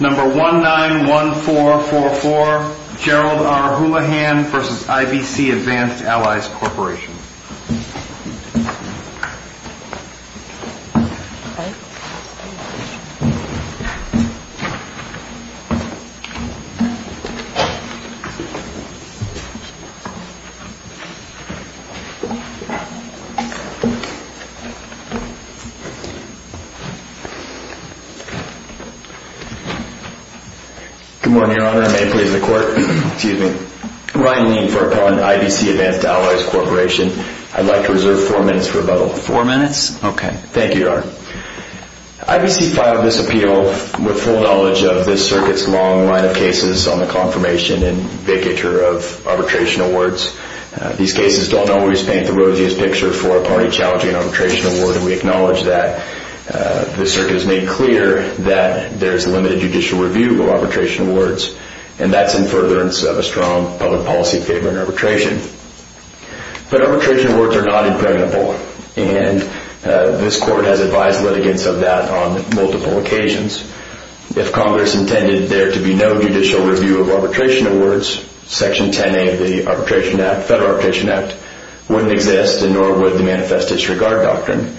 Number 191444, Gerald R. Hoolahan v. IBC Advanced Alloys Corp. Good morning, Your Honor. May it please the Court? Excuse me. Ryan Lean for Appellant IBC Advanced Alloys Corp. I'd like to reserve four minutes for rebuttal. Four minutes? Okay. Thank you, Your Honor. IBC filed this appeal with full knowledge of this circuit's long line of cases on the confirmation and vacatur of arbitration awards. These cases don't always paint the rosiest picture for a party challenging an arbitration award, and we acknowledge that. This circuit has made clear that there is limited judicial review of arbitration awards, and that's in furtherance of a strong public policy favor in arbitration. But arbitration awards are not impregnable, and this Court has advised litigants of that on multiple occasions. If Congress intended there to be no judicial review of arbitration awards, Section 10A of the Federal Arbitration Act wouldn't exist, and nor would the Manifest Disregard Doctrine.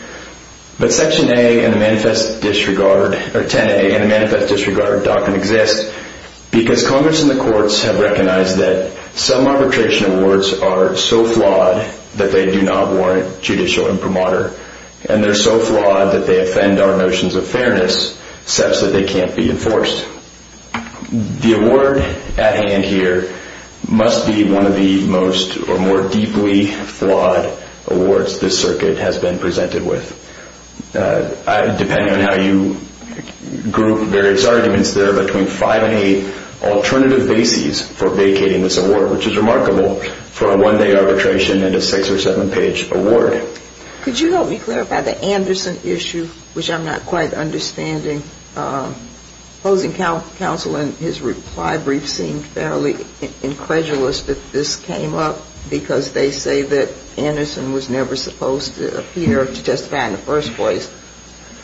But Section 10A in the Manifest Disregard Doctrine exists because Congress and the courts have recognized that some arbitration awards are so flawed that they do not warrant judicial imprimatur, and they're so flawed that they offend our notions of fairness such that they can't be enforced. The award at hand here must be one of the most or more deeply flawed awards this circuit has been presented with. Depending on how you group various arguments, there are between five and eight alternative bases for vacating this award, which is remarkable for a one-day arbitration and a six- or seven-page award. Could you help me clarify the Anderson issue, which I'm not quite understanding? Opposing counsel in his reply brief seemed fairly incredulous that this came up because they say that Anderson was never supposed to appear to testify in the first place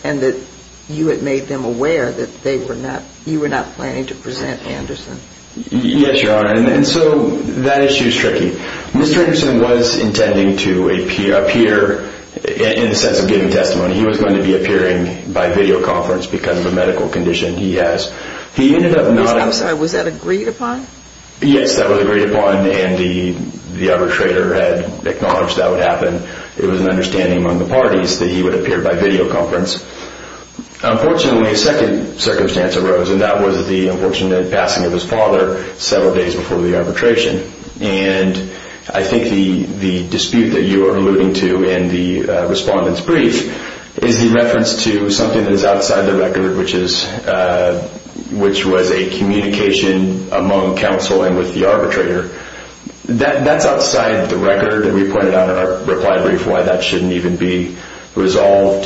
and that you had made them aware that you were not planning to present Anderson. Yes, Your Honor, and so that issue is tricky. Mr. Anderson was intending to appear in the sense of giving testimony. He was going to be appearing by videoconference because of a medical condition he has. He ended up not – I'm sorry. Was that agreed upon? Yes, that was agreed upon, and the arbitrator had acknowledged that would happen. It was an understanding among the parties that he would appear by videoconference. Unfortunately, a second circumstance arose, and that was the unfortunate passing of his father several days before the arbitration. And I think the dispute that you are alluding to in the respondent's brief is the reference to something that is outside the record, which was a communication among counsel and with the arbitrator. That's outside the record, and we pointed out in our reply brief why that shouldn't even be resolved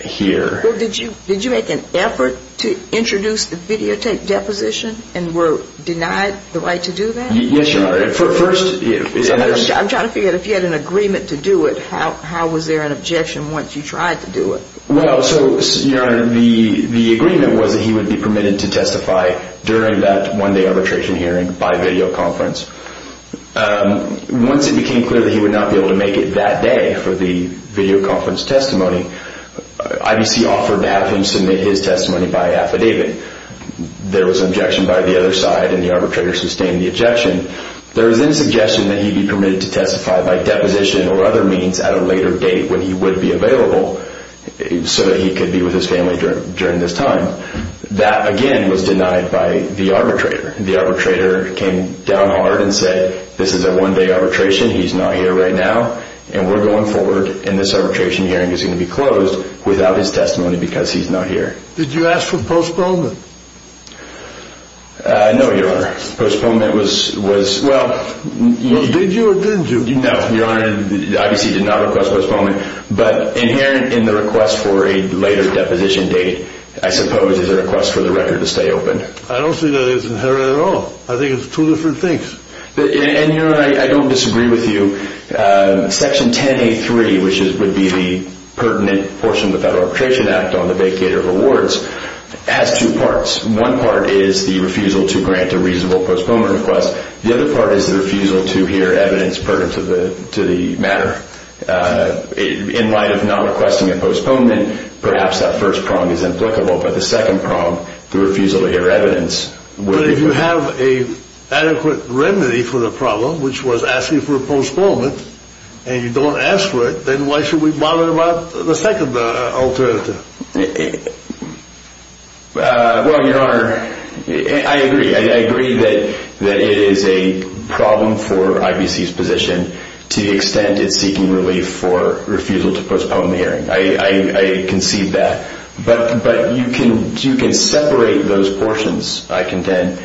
here. Well, did you make an effort to introduce the videotape deposition and were denied the right to do that? Yes, Your Honor. I'm trying to figure out if you had an agreement to do it. How was there an objection once you tried to do it? Well, so, Your Honor, the agreement was that he would be permitted to testify during that one-day arbitration hearing by videoconference. Once it became clear that he would not be able to make it that day for the videoconference testimony, IBC offered to have him submit his testimony by affidavit. There was an objection by the other side, and the arbitrator sustained the objection. There was then a suggestion that he be permitted to testify by deposition or other means at a later date when he would be available so that he could be with his family during this time. That, again, was denied by the arbitrator. The arbitrator came down hard and said, this is a one-day arbitration, he's not here right now, and we're going forward, and this arbitration hearing is going to be closed without his testimony because he's not here. Did you ask for postponement? No, Your Honor. Postponement was... Well, did you or didn't you? No, Your Honor, IBC did not request postponement, but inherent in the request for a later deposition date, I suppose, is a request for the record to stay open. I don't see that it's inherent at all. I think it's two different things. And, Your Honor, I don't disagree with you. Section 10A.3, which would be the pertinent portion of the Federal Arbitration Act on the vacate of awards, has two parts. One part is the refusal to grant a reasonable postponement request. The other part is the refusal to hear evidence pertinent to the matter. In light of not requesting a postponement, perhaps that first prong is implicable, but the second prong, the refusal to hear evidence... But if you have an adequate remedy for the problem, which was asking for a postponement, and you don't ask for it, then why should we bother about the second alternative? Well, Your Honor, I agree. I agree that it is a problem for IBC's position to the extent it's seeking relief for refusal to postpone the hearing. I concede that. But you can separate those portions, I contend,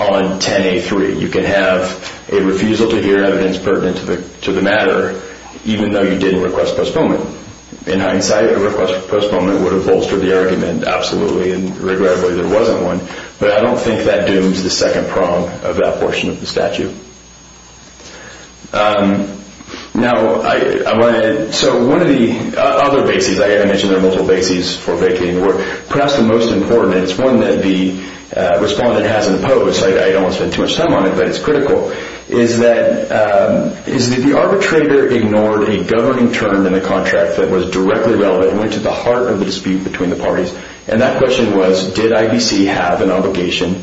on 10A.3. You can have a refusal to hear evidence pertinent to the matter, even though you didn't request postponement. In hindsight, a request for postponement would have bolstered the argument, absolutely, and regrettably there wasn't one. But I don't think that dooms the second prong of that portion of the statute. Now, so one of the other bases, I mentioned there are multiple bases for vacating the work, perhaps the most important, and it's one that the respondent has imposed, so I don't want to spend too much time on it, but it's critical, is that the arbitrator ignored a governing term in the contract that was directly relevant and went to the heart of the dispute between the parties, and that question was, did IBC have an obligation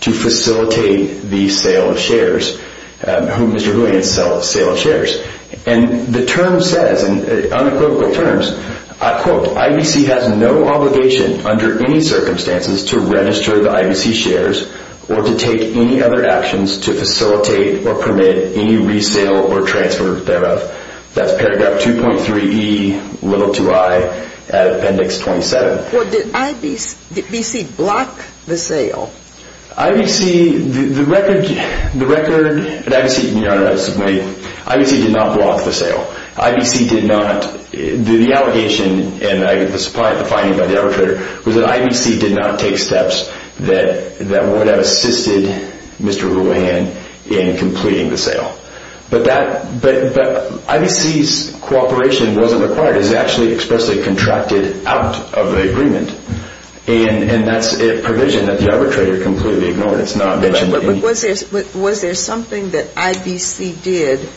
to facilitate the sale of shares? Mr. Hoolian, sale of shares. And the term says, in unequivocal terms, That's paragraph 2.3e, little to I, at Appendix 27. Well, did IBC block the sale? IBC, the record, IBC did not block the sale. IBC did not, the allegation, and the finding by the arbitrator, was that IBC did not take steps that would have assisted Mr. Hoolian in completing the sale. But IBC's cooperation wasn't required, it was actually expressly contracted out of the agreement, and that's a provision that the arbitrator completely ignored. But was there something that IBC did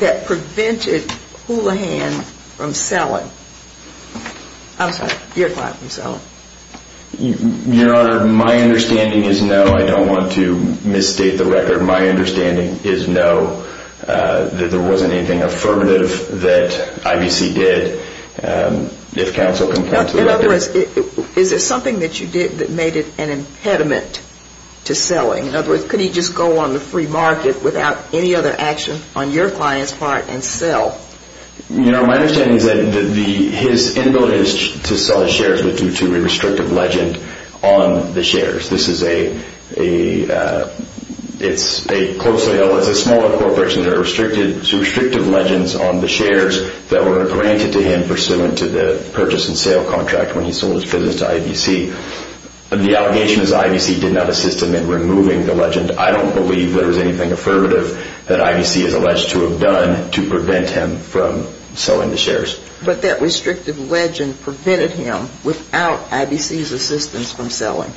that prevented Hoolian from selling? I'm sorry, your client from selling. Your Honor, my understanding is no, I don't want to misstate the record, my understanding is no, that there wasn't anything affirmative that IBC did. If counsel can come to the record. In other words, is there something that you did that made it an impediment to selling? In other words, could he just go on the free market without any other action on your client's part and sell? You know, my understanding is that his inability to sell his shares was due to a restrictive legend on the shares. This is a closely held, it's a small corporation, there are restrictive legends on the shares that were granted to him pursuant to the purchase and sale contract when he sold his business to IBC. The allegation is that IBC did not assist him in removing the legend. I don't believe there was anything affirmative that IBC is alleged to have done to prevent him from selling the shares. But that restrictive legend prevented him without IBC's assistance from selling.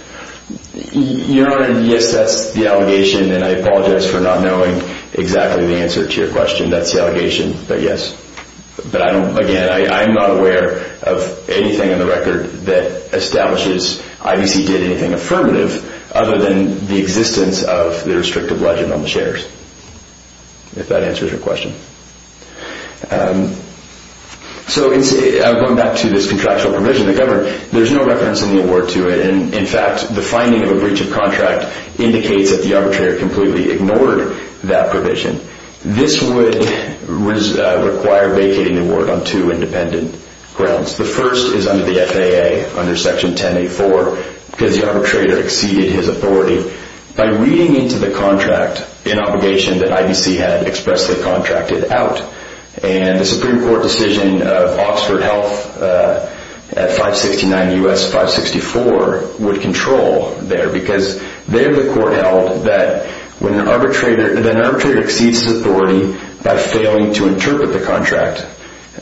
Your Honor, yes, that's the allegation, and I apologize for not knowing exactly the answer to your question. That's the allegation, but yes. But I don't, again, I'm not aware of anything in the record that establishes IBC did anything affirmative other than the existence of the restrictive legend on the shares. If that answers your question. So going back to this contractual provision, there's no reference in the award to it. In fact, the finding of a breach of contract indicates that the arbitrator completely ignored that provision. This would require vacating the award on two independent grounds. The first is under the FAA, under Section 1084, because the arbitrator exceeded his authority. By reading into the contract an obligation that IBC had expressly contracted out, and the Supreme Court decision of Oxford Health at 569 U.S. 564 would control there because there the court held that when an arbitrator exceeds his authority by failing to interpret the contract,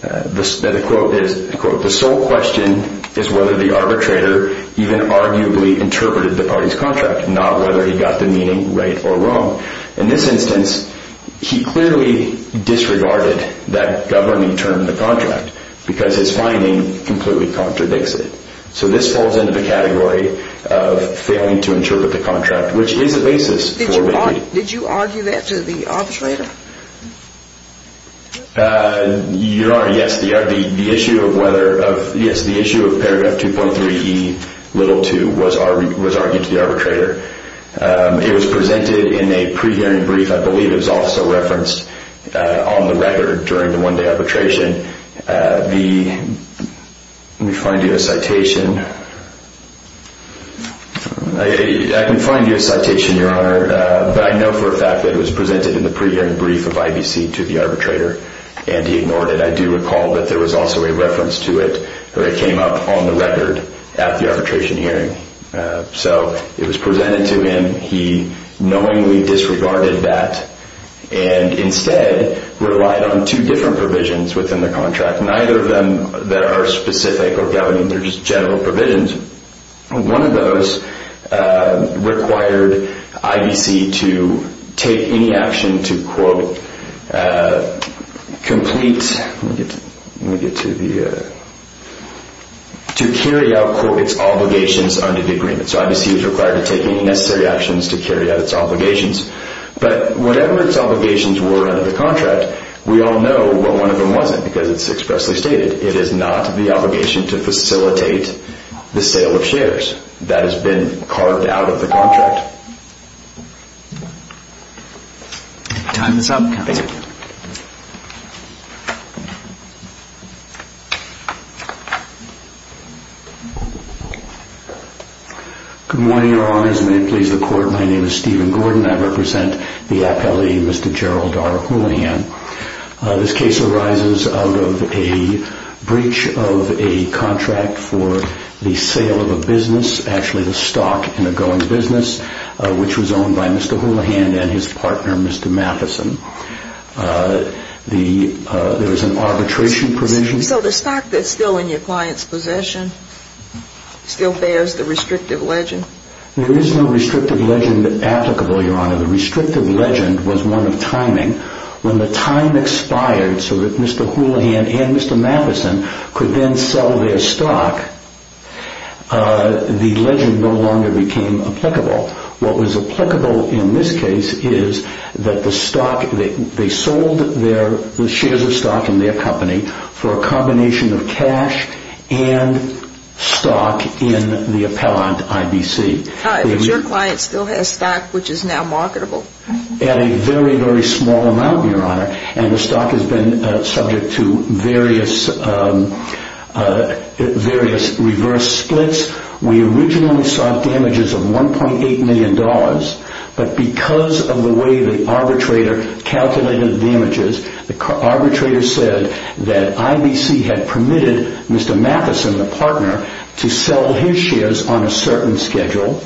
that the quote is, the sole question is whether the arbitrator even arguably interpreted the party's contract, not whether he got the meaning right or wrong. In this instance, he clearly disregarded that governing term, the contract, because his finding completely contradicts it. So this falls into the category of failing to interpret the contract, which is a basis. Did you argue that to the arbitrator? Your Honor, yes. The issue of paragraph 2.3E, little 2, was argued to the arbitrator. It was presented in a pre-hearing brief. I believe it was also referenced on the record during the one-day arbitration. Let me find you a citation. I can find you a citation, Your Honor, but I know for a fact that it was presented in the pre-hearing brief of IBC to the arbitrator, and he ignored it. I do recall that there was also a reference to it that came up on the record at the arbitration hearing. So it was presented to him. He knowingly disregarded that and instead relied on two different provisions within the contract, neither of them that are specific or governing. They're just general provisions. One of those required IBC to take any action to, quote, complete, let me get to the, to carry out, quote, its obligations under the agreement. So IBC was required to take any necessary actions to carry out its obligations. But whatever its obligations were under the contract, we all know what one of them wasn't because it's expressly stated. It is not the obligation to facilitate the sale of shares. That has been carved out of the contract. Time is up, counsel. Thank you. Good morning, Your Honors. May it please the Court, my name is Stephen Gordon. I represent the appellee, Mr. Gerald R. Hoolihan. This case arises out of a breach of a contract for the sale of a business, actually the stock in a going business, which was owned by Mr. Hoolihan and his partner, Mr. Matheson. There was an arbitration provision. So the stock that's still in your client's possession still bears the restrictive legend? The restrictive legend was one of timing. When the time expired so that Mr. Hoolihan and Mr. Matheson could then sell their stock, the legend no longer became applicable. What was applicable in this case is that the stock, they sold their shares of stock in their company for a combination of cash and stock in the appellant IBC. But your client still has stock which is now marketable? At a very, very small amount, Your Honor. And the stock has been subject to various reverse splits. We originally sought damages of $1.8 million, but because of the way the arbitrator calculated the damages, the arbitrator said that IBC had permitted Mr. Matheson, the partner, to sell his shares on a certain schedule.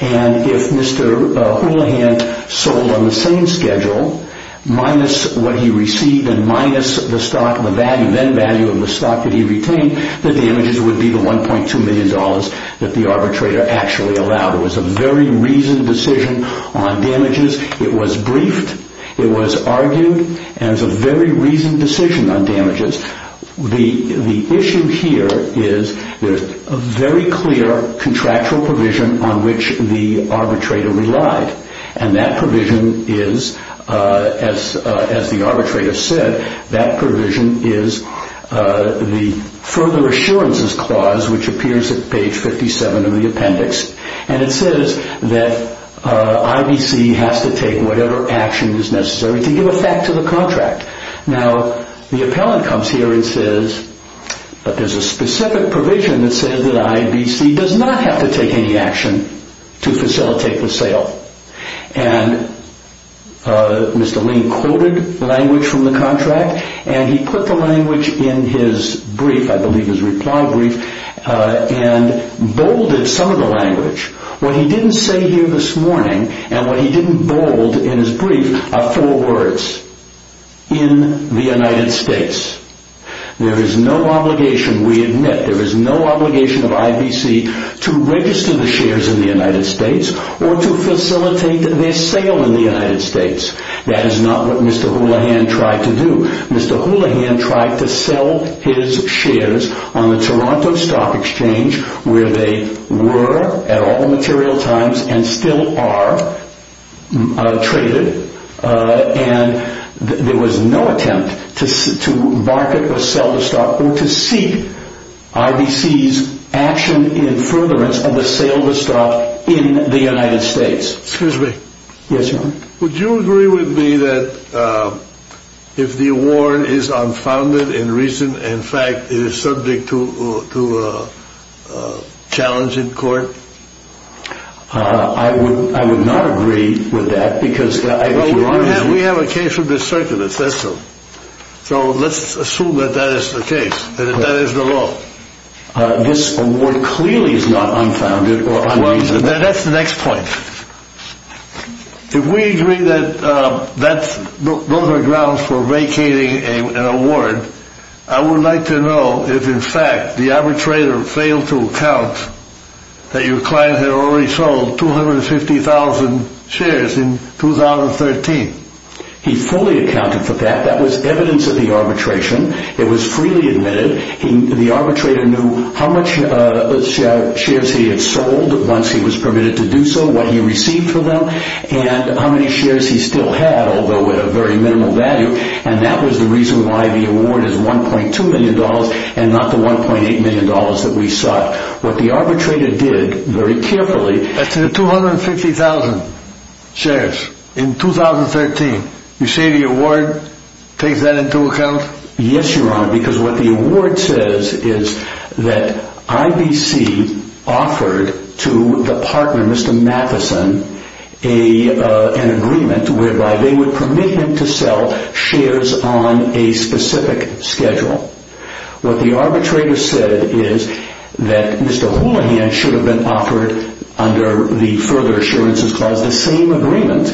And if Mr. Hoolihan sold on the same schedule, minus what he received and minus the value of the stock that he retained, the damages would be the $1.2 million that the arbitrator actually allowed. It was a very reasoned decision on damages. It was briefed, it was argued, and it was a very reasoned decision on damages. The issue here is there is a very clear contractual provision on which the arbitrator relied. And that provision is, as the arbitrator said, that provision is the further assurances clause which appears at page 57 of the appendix. And it says that IBC has to take whatever action is necessary to give effect to the contract. Now, the appellant comes here and says, but there's a specific provision that says that IBC does not have to take any action to facilitate the sale. And Mr. Ling quoted language from the contract, and he put the language in his brief, I believe his reply brief, and bolded some of the language. What he didn't say here this morning, and what he didn't bold in his brief, are four words. In the United States. There is no obligation, we admit, there is no obligation of IBC to register the shares in the United States or to facilitate their sale in the United States. That is not what Mr. Houlihan tried to do. Mr. Houlihan tried to sell his shares on the Toronto Stock Exchange, where they were at all material times and still are traded. And there was no attempt to market or sell the stock or to seek IBC's action in furtherance of the sale of the stock in the United States. Excuse me. Yes, Your Honor. Would you agree with me that if the award is unfounded in reason, in fact, it is subject to a challenge in court? I would not agree with that because, Your Honor. We have a case of this circumstance. So let's assume that that is the case, that that is the law. This award clearly is not unfounded or unreasonable. That's the next point. If we agree that those are grounds for vacating an award, I would like to know if, in fact, the arbitrator failed to account that your client had already sold 250,000 shares in 2013. He fully accounted for that. That was evidence of the arbitration. It was freely admitted. The arbitrator knew how much shares he had sold once he was permitted to do so, what he received from them, and how many shares he still had, although at a very minimal value, and that was the reason why the award is $1.2 million and not the $1.8 million that we sought. What the arbitrator did very carefully That's 250,000 shares in 2013. You say the award takes that into account? Yes, Your Honor, because what the award says is that IBC offered to the partner, Mr. Matheson, an agreement whereby they would permit him to sell shares on a specific schedule. What the arbitrator said is that Mr. Houlihan should have been offered, under the further assurances clause, the same agreement,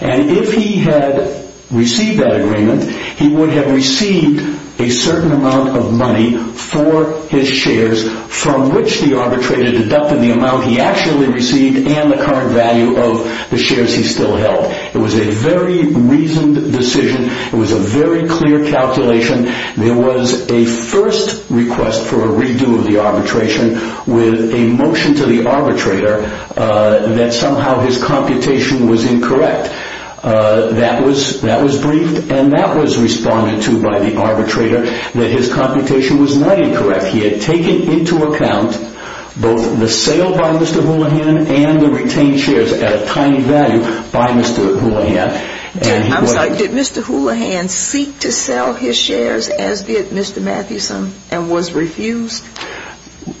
and if he had received that agreement, he would have received a certain amount of money for his shares from which the arbitrator deducted the amount he actually received and the current value of the shares he still held. It was a very reasoned decision. It was a very clear calculation. There was a first request for a redo of the arbitration with a motion to the arbitrator that somehow his computation was incorrect. That was briefed and that was responded to by the arbitrator that his computation was not incorrect. He had taken into account both the sale by Mr. Houlihan and the retained shares at a tiny value by Mr. Houlihan. Did Mr. Houlihan seek to sell his shares as did Mr. Matheson and was refused?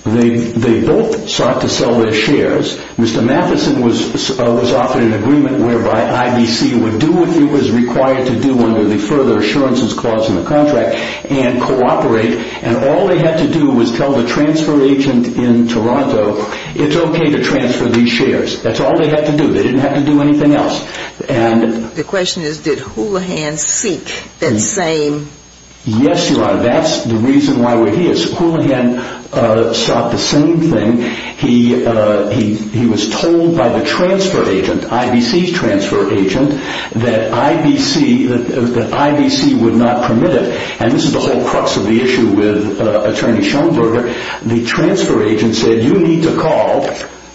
They both sought to sell their shares. Mr. Matheson was offered an agreement whereby IBC would do what he was required to do under the further assurances clause in the contract and cooperate. All they had to do was tell the transfer agent in Toronto, it's okay to transfer these shares. That's all they had to do. They didn't have to do anything else. The question is, did Houlihan seek that same? Yes, Your Honor. That's the reason why we're here. Houlihan sought the same thing. He was told by the transfer agent, IBC's transfer agent, that IBC would not permit it. This is the whole crux of the issue with Attorney Schoenberger. The transfer agent said, you need to call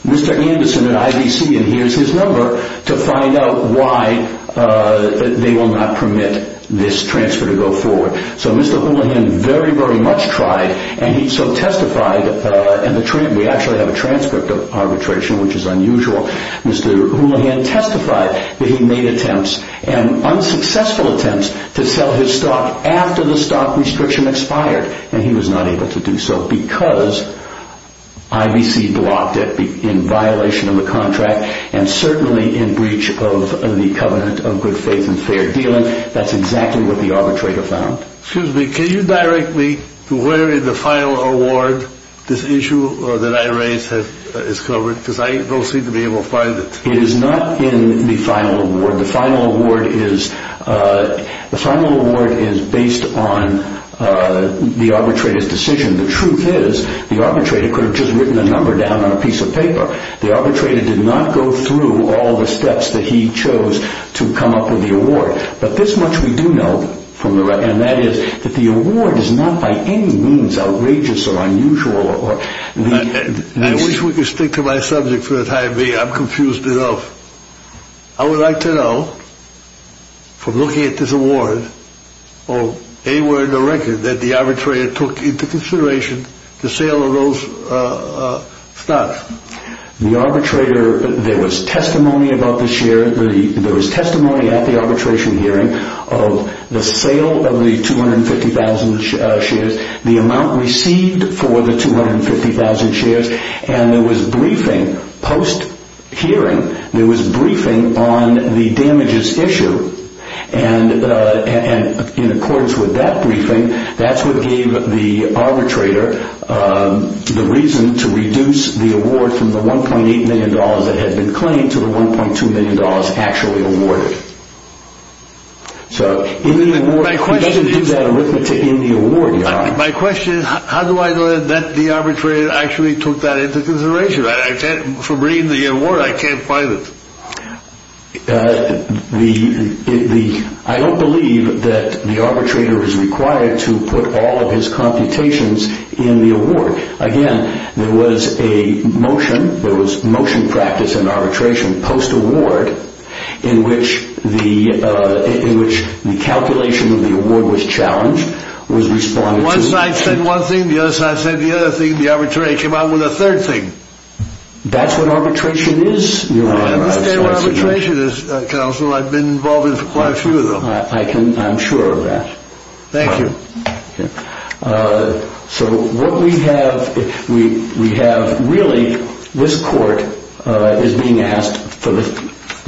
Mr. Anderson at IBC, and here's his number, to find out why they will not permit this transfer to go forward. Mr. Houlihan very, very much tried, and he so testified. We actually have a transcript of arbitration, which is unusual. Mr. Houlihan testified that he made attempts, and unsuccessful attempts, to sell his stock after the stock restriction expired, and he was not able to do so because IBC blocked it in violation of the contract, and certainly in breach of the covenant of good faith and fair dealing. That's exactly what the arbitrator found. Excuse me. Can you direct me to where in the final award this issue that I raised is covered? Because I don't seem to be able to find it. It is not in the final award. The final award is based on the arbitrator's decision. The truth is the arbitrator could have just written a number down on a piece of paper. The arbitrator did not go through all the steps that he chose to come up with the award. But this much we do know, and that is that the award is not by any means outrageous or unusual. I wish we could stick to my subject for the time being. I'm confused enough. I would like to know, from looking at this award, or anywhere in the record that the arbitrator took into consideration the sale of those stocks. The arbitrator, there was testimony at the arbitration hearing of the sale of the 250,000 shares, the amount received for the 250,000 shares, and there was briefing, post-hearing, there was briefing on the damages issue. And in accordance with that briefing, that's what gave the arbitrator the reason to reduce the award from the $1.8 million that had been claimed to the $1.2 million actually awarded. So, in the award, he doesn't do that arithmetic in the award. My question is, how do I know that the arbitrator actually took that into consideration? From reading the award, I can't find it. I don't believe that the arbitrator was required to put all of his computations in the award. Again, there was a motion, there was motion practice in arbitration post-award, in which the calculation of the award was challenged. One side said one thing, the other side said the other thing. The arbitrator came out with a third thing. That's what arbitration is, Your Honor. I understand what arbitration is, Counselor. I've been involved in quite a few of them. I'm sure of that. Thank you. So, really, this court is being asked for the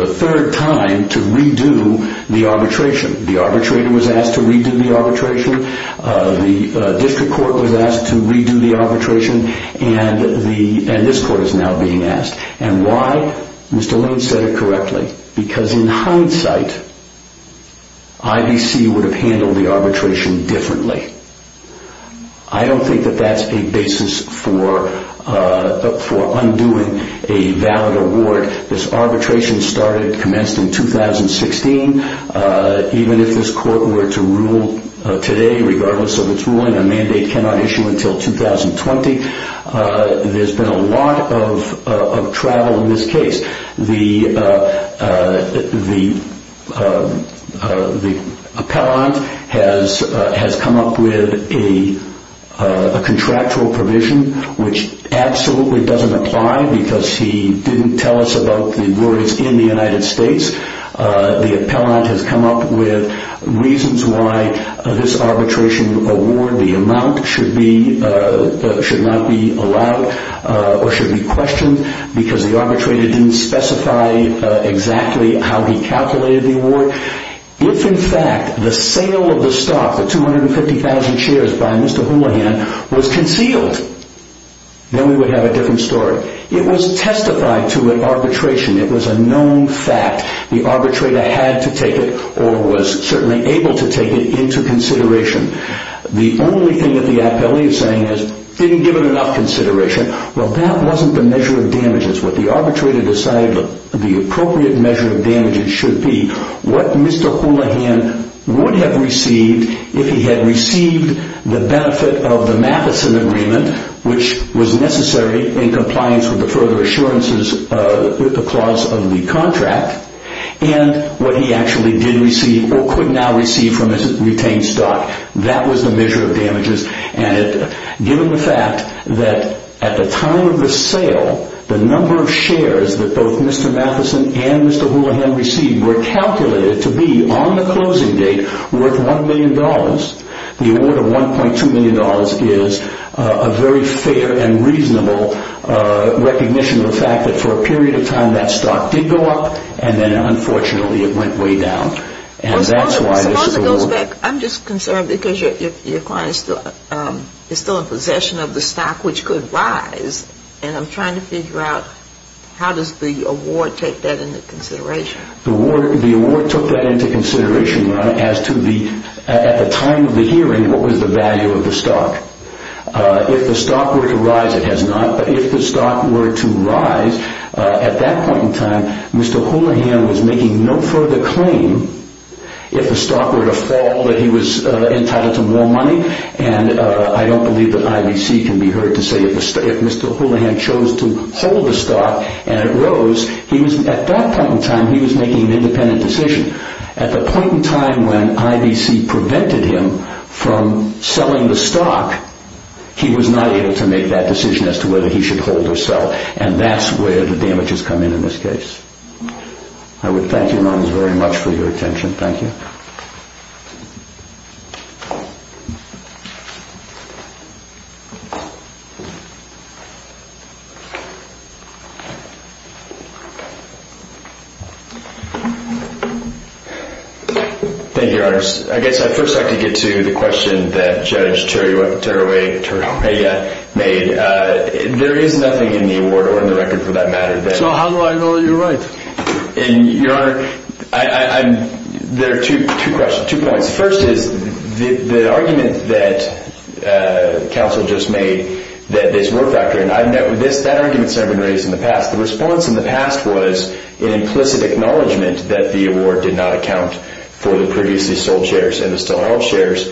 third time to redo the arbitration. The arbitrator was asked to redo the arbitration. The district court was asked to redo the arbitration. And this court is now being asked. Mr. Lane said it correctly. Because in hindsight, IBC would have handled the arbitration differently. I don't think that that's a basis for undoing a valid award. This arbitration started, commenced in 2016. Even if this court were to rule today, regardless of its ruling, a mandate cannot issue until 2020. There's been a lot of travel in this case. The appellant has come up with a contractual provision, which absolutely doesn't apply, because he didn't tell us about the awards in the United States. The appellant has come up with reasons why this arbitration award, the amount, should not be allowed or should be questioned, because the arbitrator didn't specify exactly how he calculated the award. If, in fact, the sale of the stock, the 250,000 shares by Mr. Houlihan, was concealed, then we would have a different story. It was testified to at arbitration. It was a known fact. The arbitrator had to take it, or was certainly able to take it, into consideration. The only thing that the appellant is saying is, didn't give it enough consideration. Well, that wasn't the measure of damages. What the arbitrator decided the appropriate measure of damages should be, what Mr. Houlihan would have received if he had received the benefit of the Matheson agreement, which was necessary in compliance with the further assurances clause of the contract, and what he actually did receive or could now receive from his retained stock. That was the measure of damages. Given the fact that at the time of the sale, the number of shares that both Mr. Matheson and Mr. Houlihan received were calculated to be, on the closing date, worth $1 million, the award of $1.2 million is a very fair and reasonable recognition of the fact that for a period of time that stock did go up, and then unfortunately it went way down. Suppose it goes back. I'm just concerned because your client is still in possession of the stock which could rise, and I'm trying to figure out how does the award take that into consideration? The award took that into consideration as to, at the time of the hearing, what was the value of the stock. If the stock were to rise, it has not. But if the stock were to rise, at that point in time, Mr. Houlihan was making no further claim. If the stock were to fall, that he was entitled to more money, and I don't believe that IBC can be heard to say if Mr. Houlihan chose to hold the stock and it rose. At that point in time, he was making an independent decision. At the point in time when IBC prevented him from selling the stock, he was not able to make that decision as to whether he should hold or sell, and that's where the damages come in in this case. I would thank you ladies very much for your attention. Thank you. Thank you, Your Honor. I guess I'd first like to get to the question that Judge Teriwaya made. There is nothing in the award or in the record for that matter. So how do I know you're right? Your Honor, there are two questions, two points. First is the argument that counsel just made that this worked out here, and that argument's never been raised in the past. The response in the past was an implicit acknowledgment that the award did not account for the previously sold shares and the still-held shares,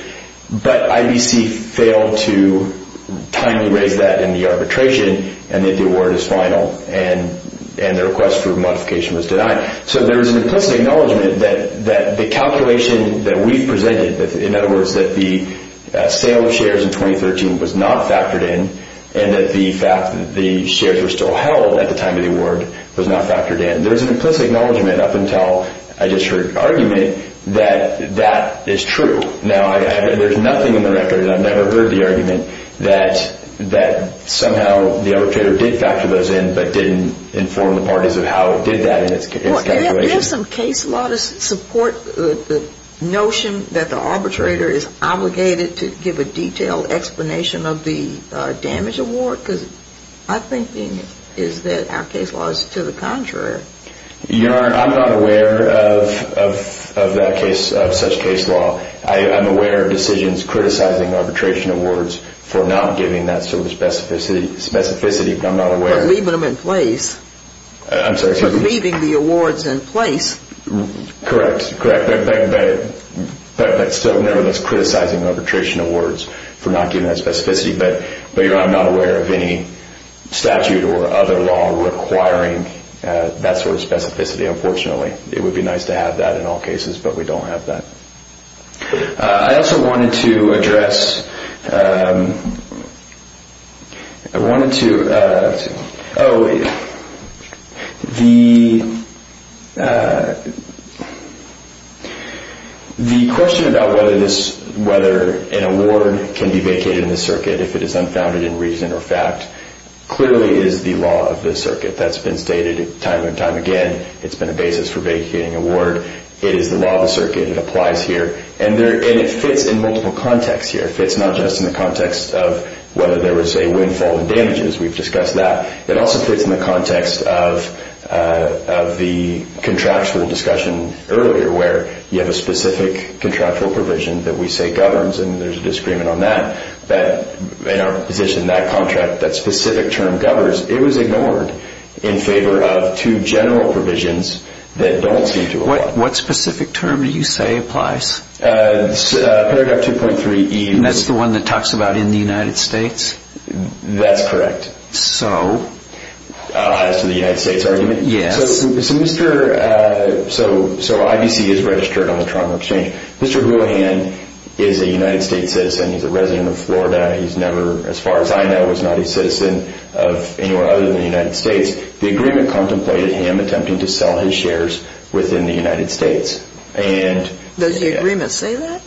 but IBC failed to timely raise that in the arbitration, and that the award is final and the request for modification was denied. So there is an implicit acknowledgment that the calculation that we've presented, in other words, that the sale of shares in 2013 was not factored in, and that the fact that the shares were still held at the time of the award was not factored in. There's an implicit acknowledgment up until I just heard argument that that is true. Now, there's nothing in the record, and I've never heard the argument, that somehow the arbitrator did factor those in, but didn't inform the parties of how it did that in its calculation. Well, there's some case law to support the notion that the arbitrator is obligated to give a detailed explanation of the damage award, because my thinking is that our case law is to the contrary. Your Honor, I'm not aware of that case, of such case law. I'm aware of decisions criticizing arbitration awards for not giving that sort of specificity, but I'm not aware. For leaving them in place. I'm sorry. For leaving the awards in place. Correct, correct. But still, nevertheless, criticizing arbitration awards for not giving that specificity. But, Your Honor, I'm not aware of any statute or other law requiring that sort of specificity, unfortunately. It would be nice to have that in all cases, but we don't have that. I also wanted to address... The question about whether an award can be vacated in the circuit if it is unfounded in reason or fact, clearly is the law of the circuit. That's been stated time and time again. It's been a basis for vacating an award. It is the law of the circuit. It applies here. And it fits in multiple contexts here. It fits not just in the context of whether there was a windfall and damages. We've discussed that. It also fits in the context of the contractual discussion earlier, where you have a specific contractual provision that we say governs, and there's a disagreement on that. In our position, that contract, that specific term governs, it was ignored in favor of two general provisions that don't seem to apply. What specific term do you say applies? Paragraph 2.3E. And that's the one that talks about in the United States? That's correct. So? As to the United States argument? Yes. So, IBC is registered on the Toronto Exchange. Mr. Grohan is a United States citizen. He's a resident of Florida. As far as I know, he's not a citizen of anywhere other than the United States. The agreement contemplated him attempting to sell his shares within the United States. Does the agreement say that?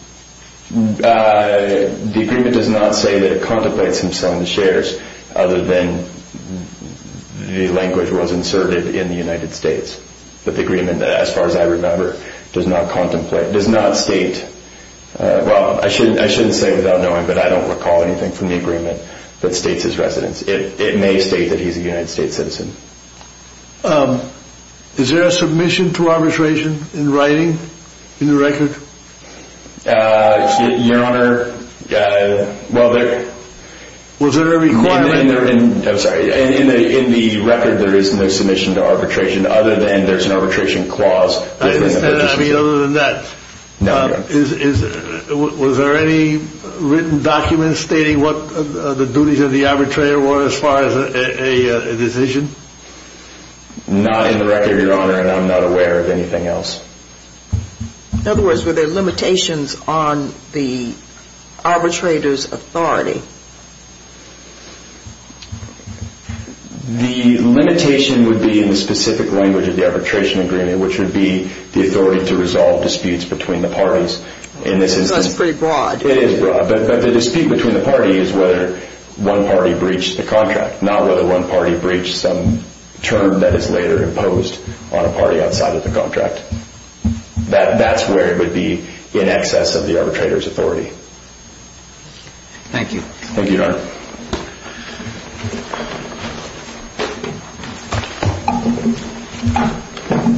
The agreement does not say that it contemplates him selling the shares other than the language was inserted in the United States. But the agreement, as far as I remember, does not state, well, I shouldn't say without knowing, but I don't recall anything from the agreement that states his residence. It may state that he's a United States citizen. Is there a submission to arbitration in writing, in the record? Your Honor, well, there… Was there a requirement? I'm sorry. In the record, there is no submission to arbitration other than there's an arbitration clause. Other than that, was there any written document stating what the duties of the arbitrator were as far as a decision? Not in the record, Your Honor, and I'm not aware of anything else. In other words, were there limitations on the arbitrator's authority? The limitation would be in the specific language of the arbitration agreement, which would be the authority to resolve disputes between the parties. That's pretty broad. It is broad, but the dispute between the parties is whether one party breached the contract, not whether one party breached some term that is later imposed on a party outside of the contract. That's where it would be in excess of the arbitrator's authority. Thank you. Thank you, Your Honor.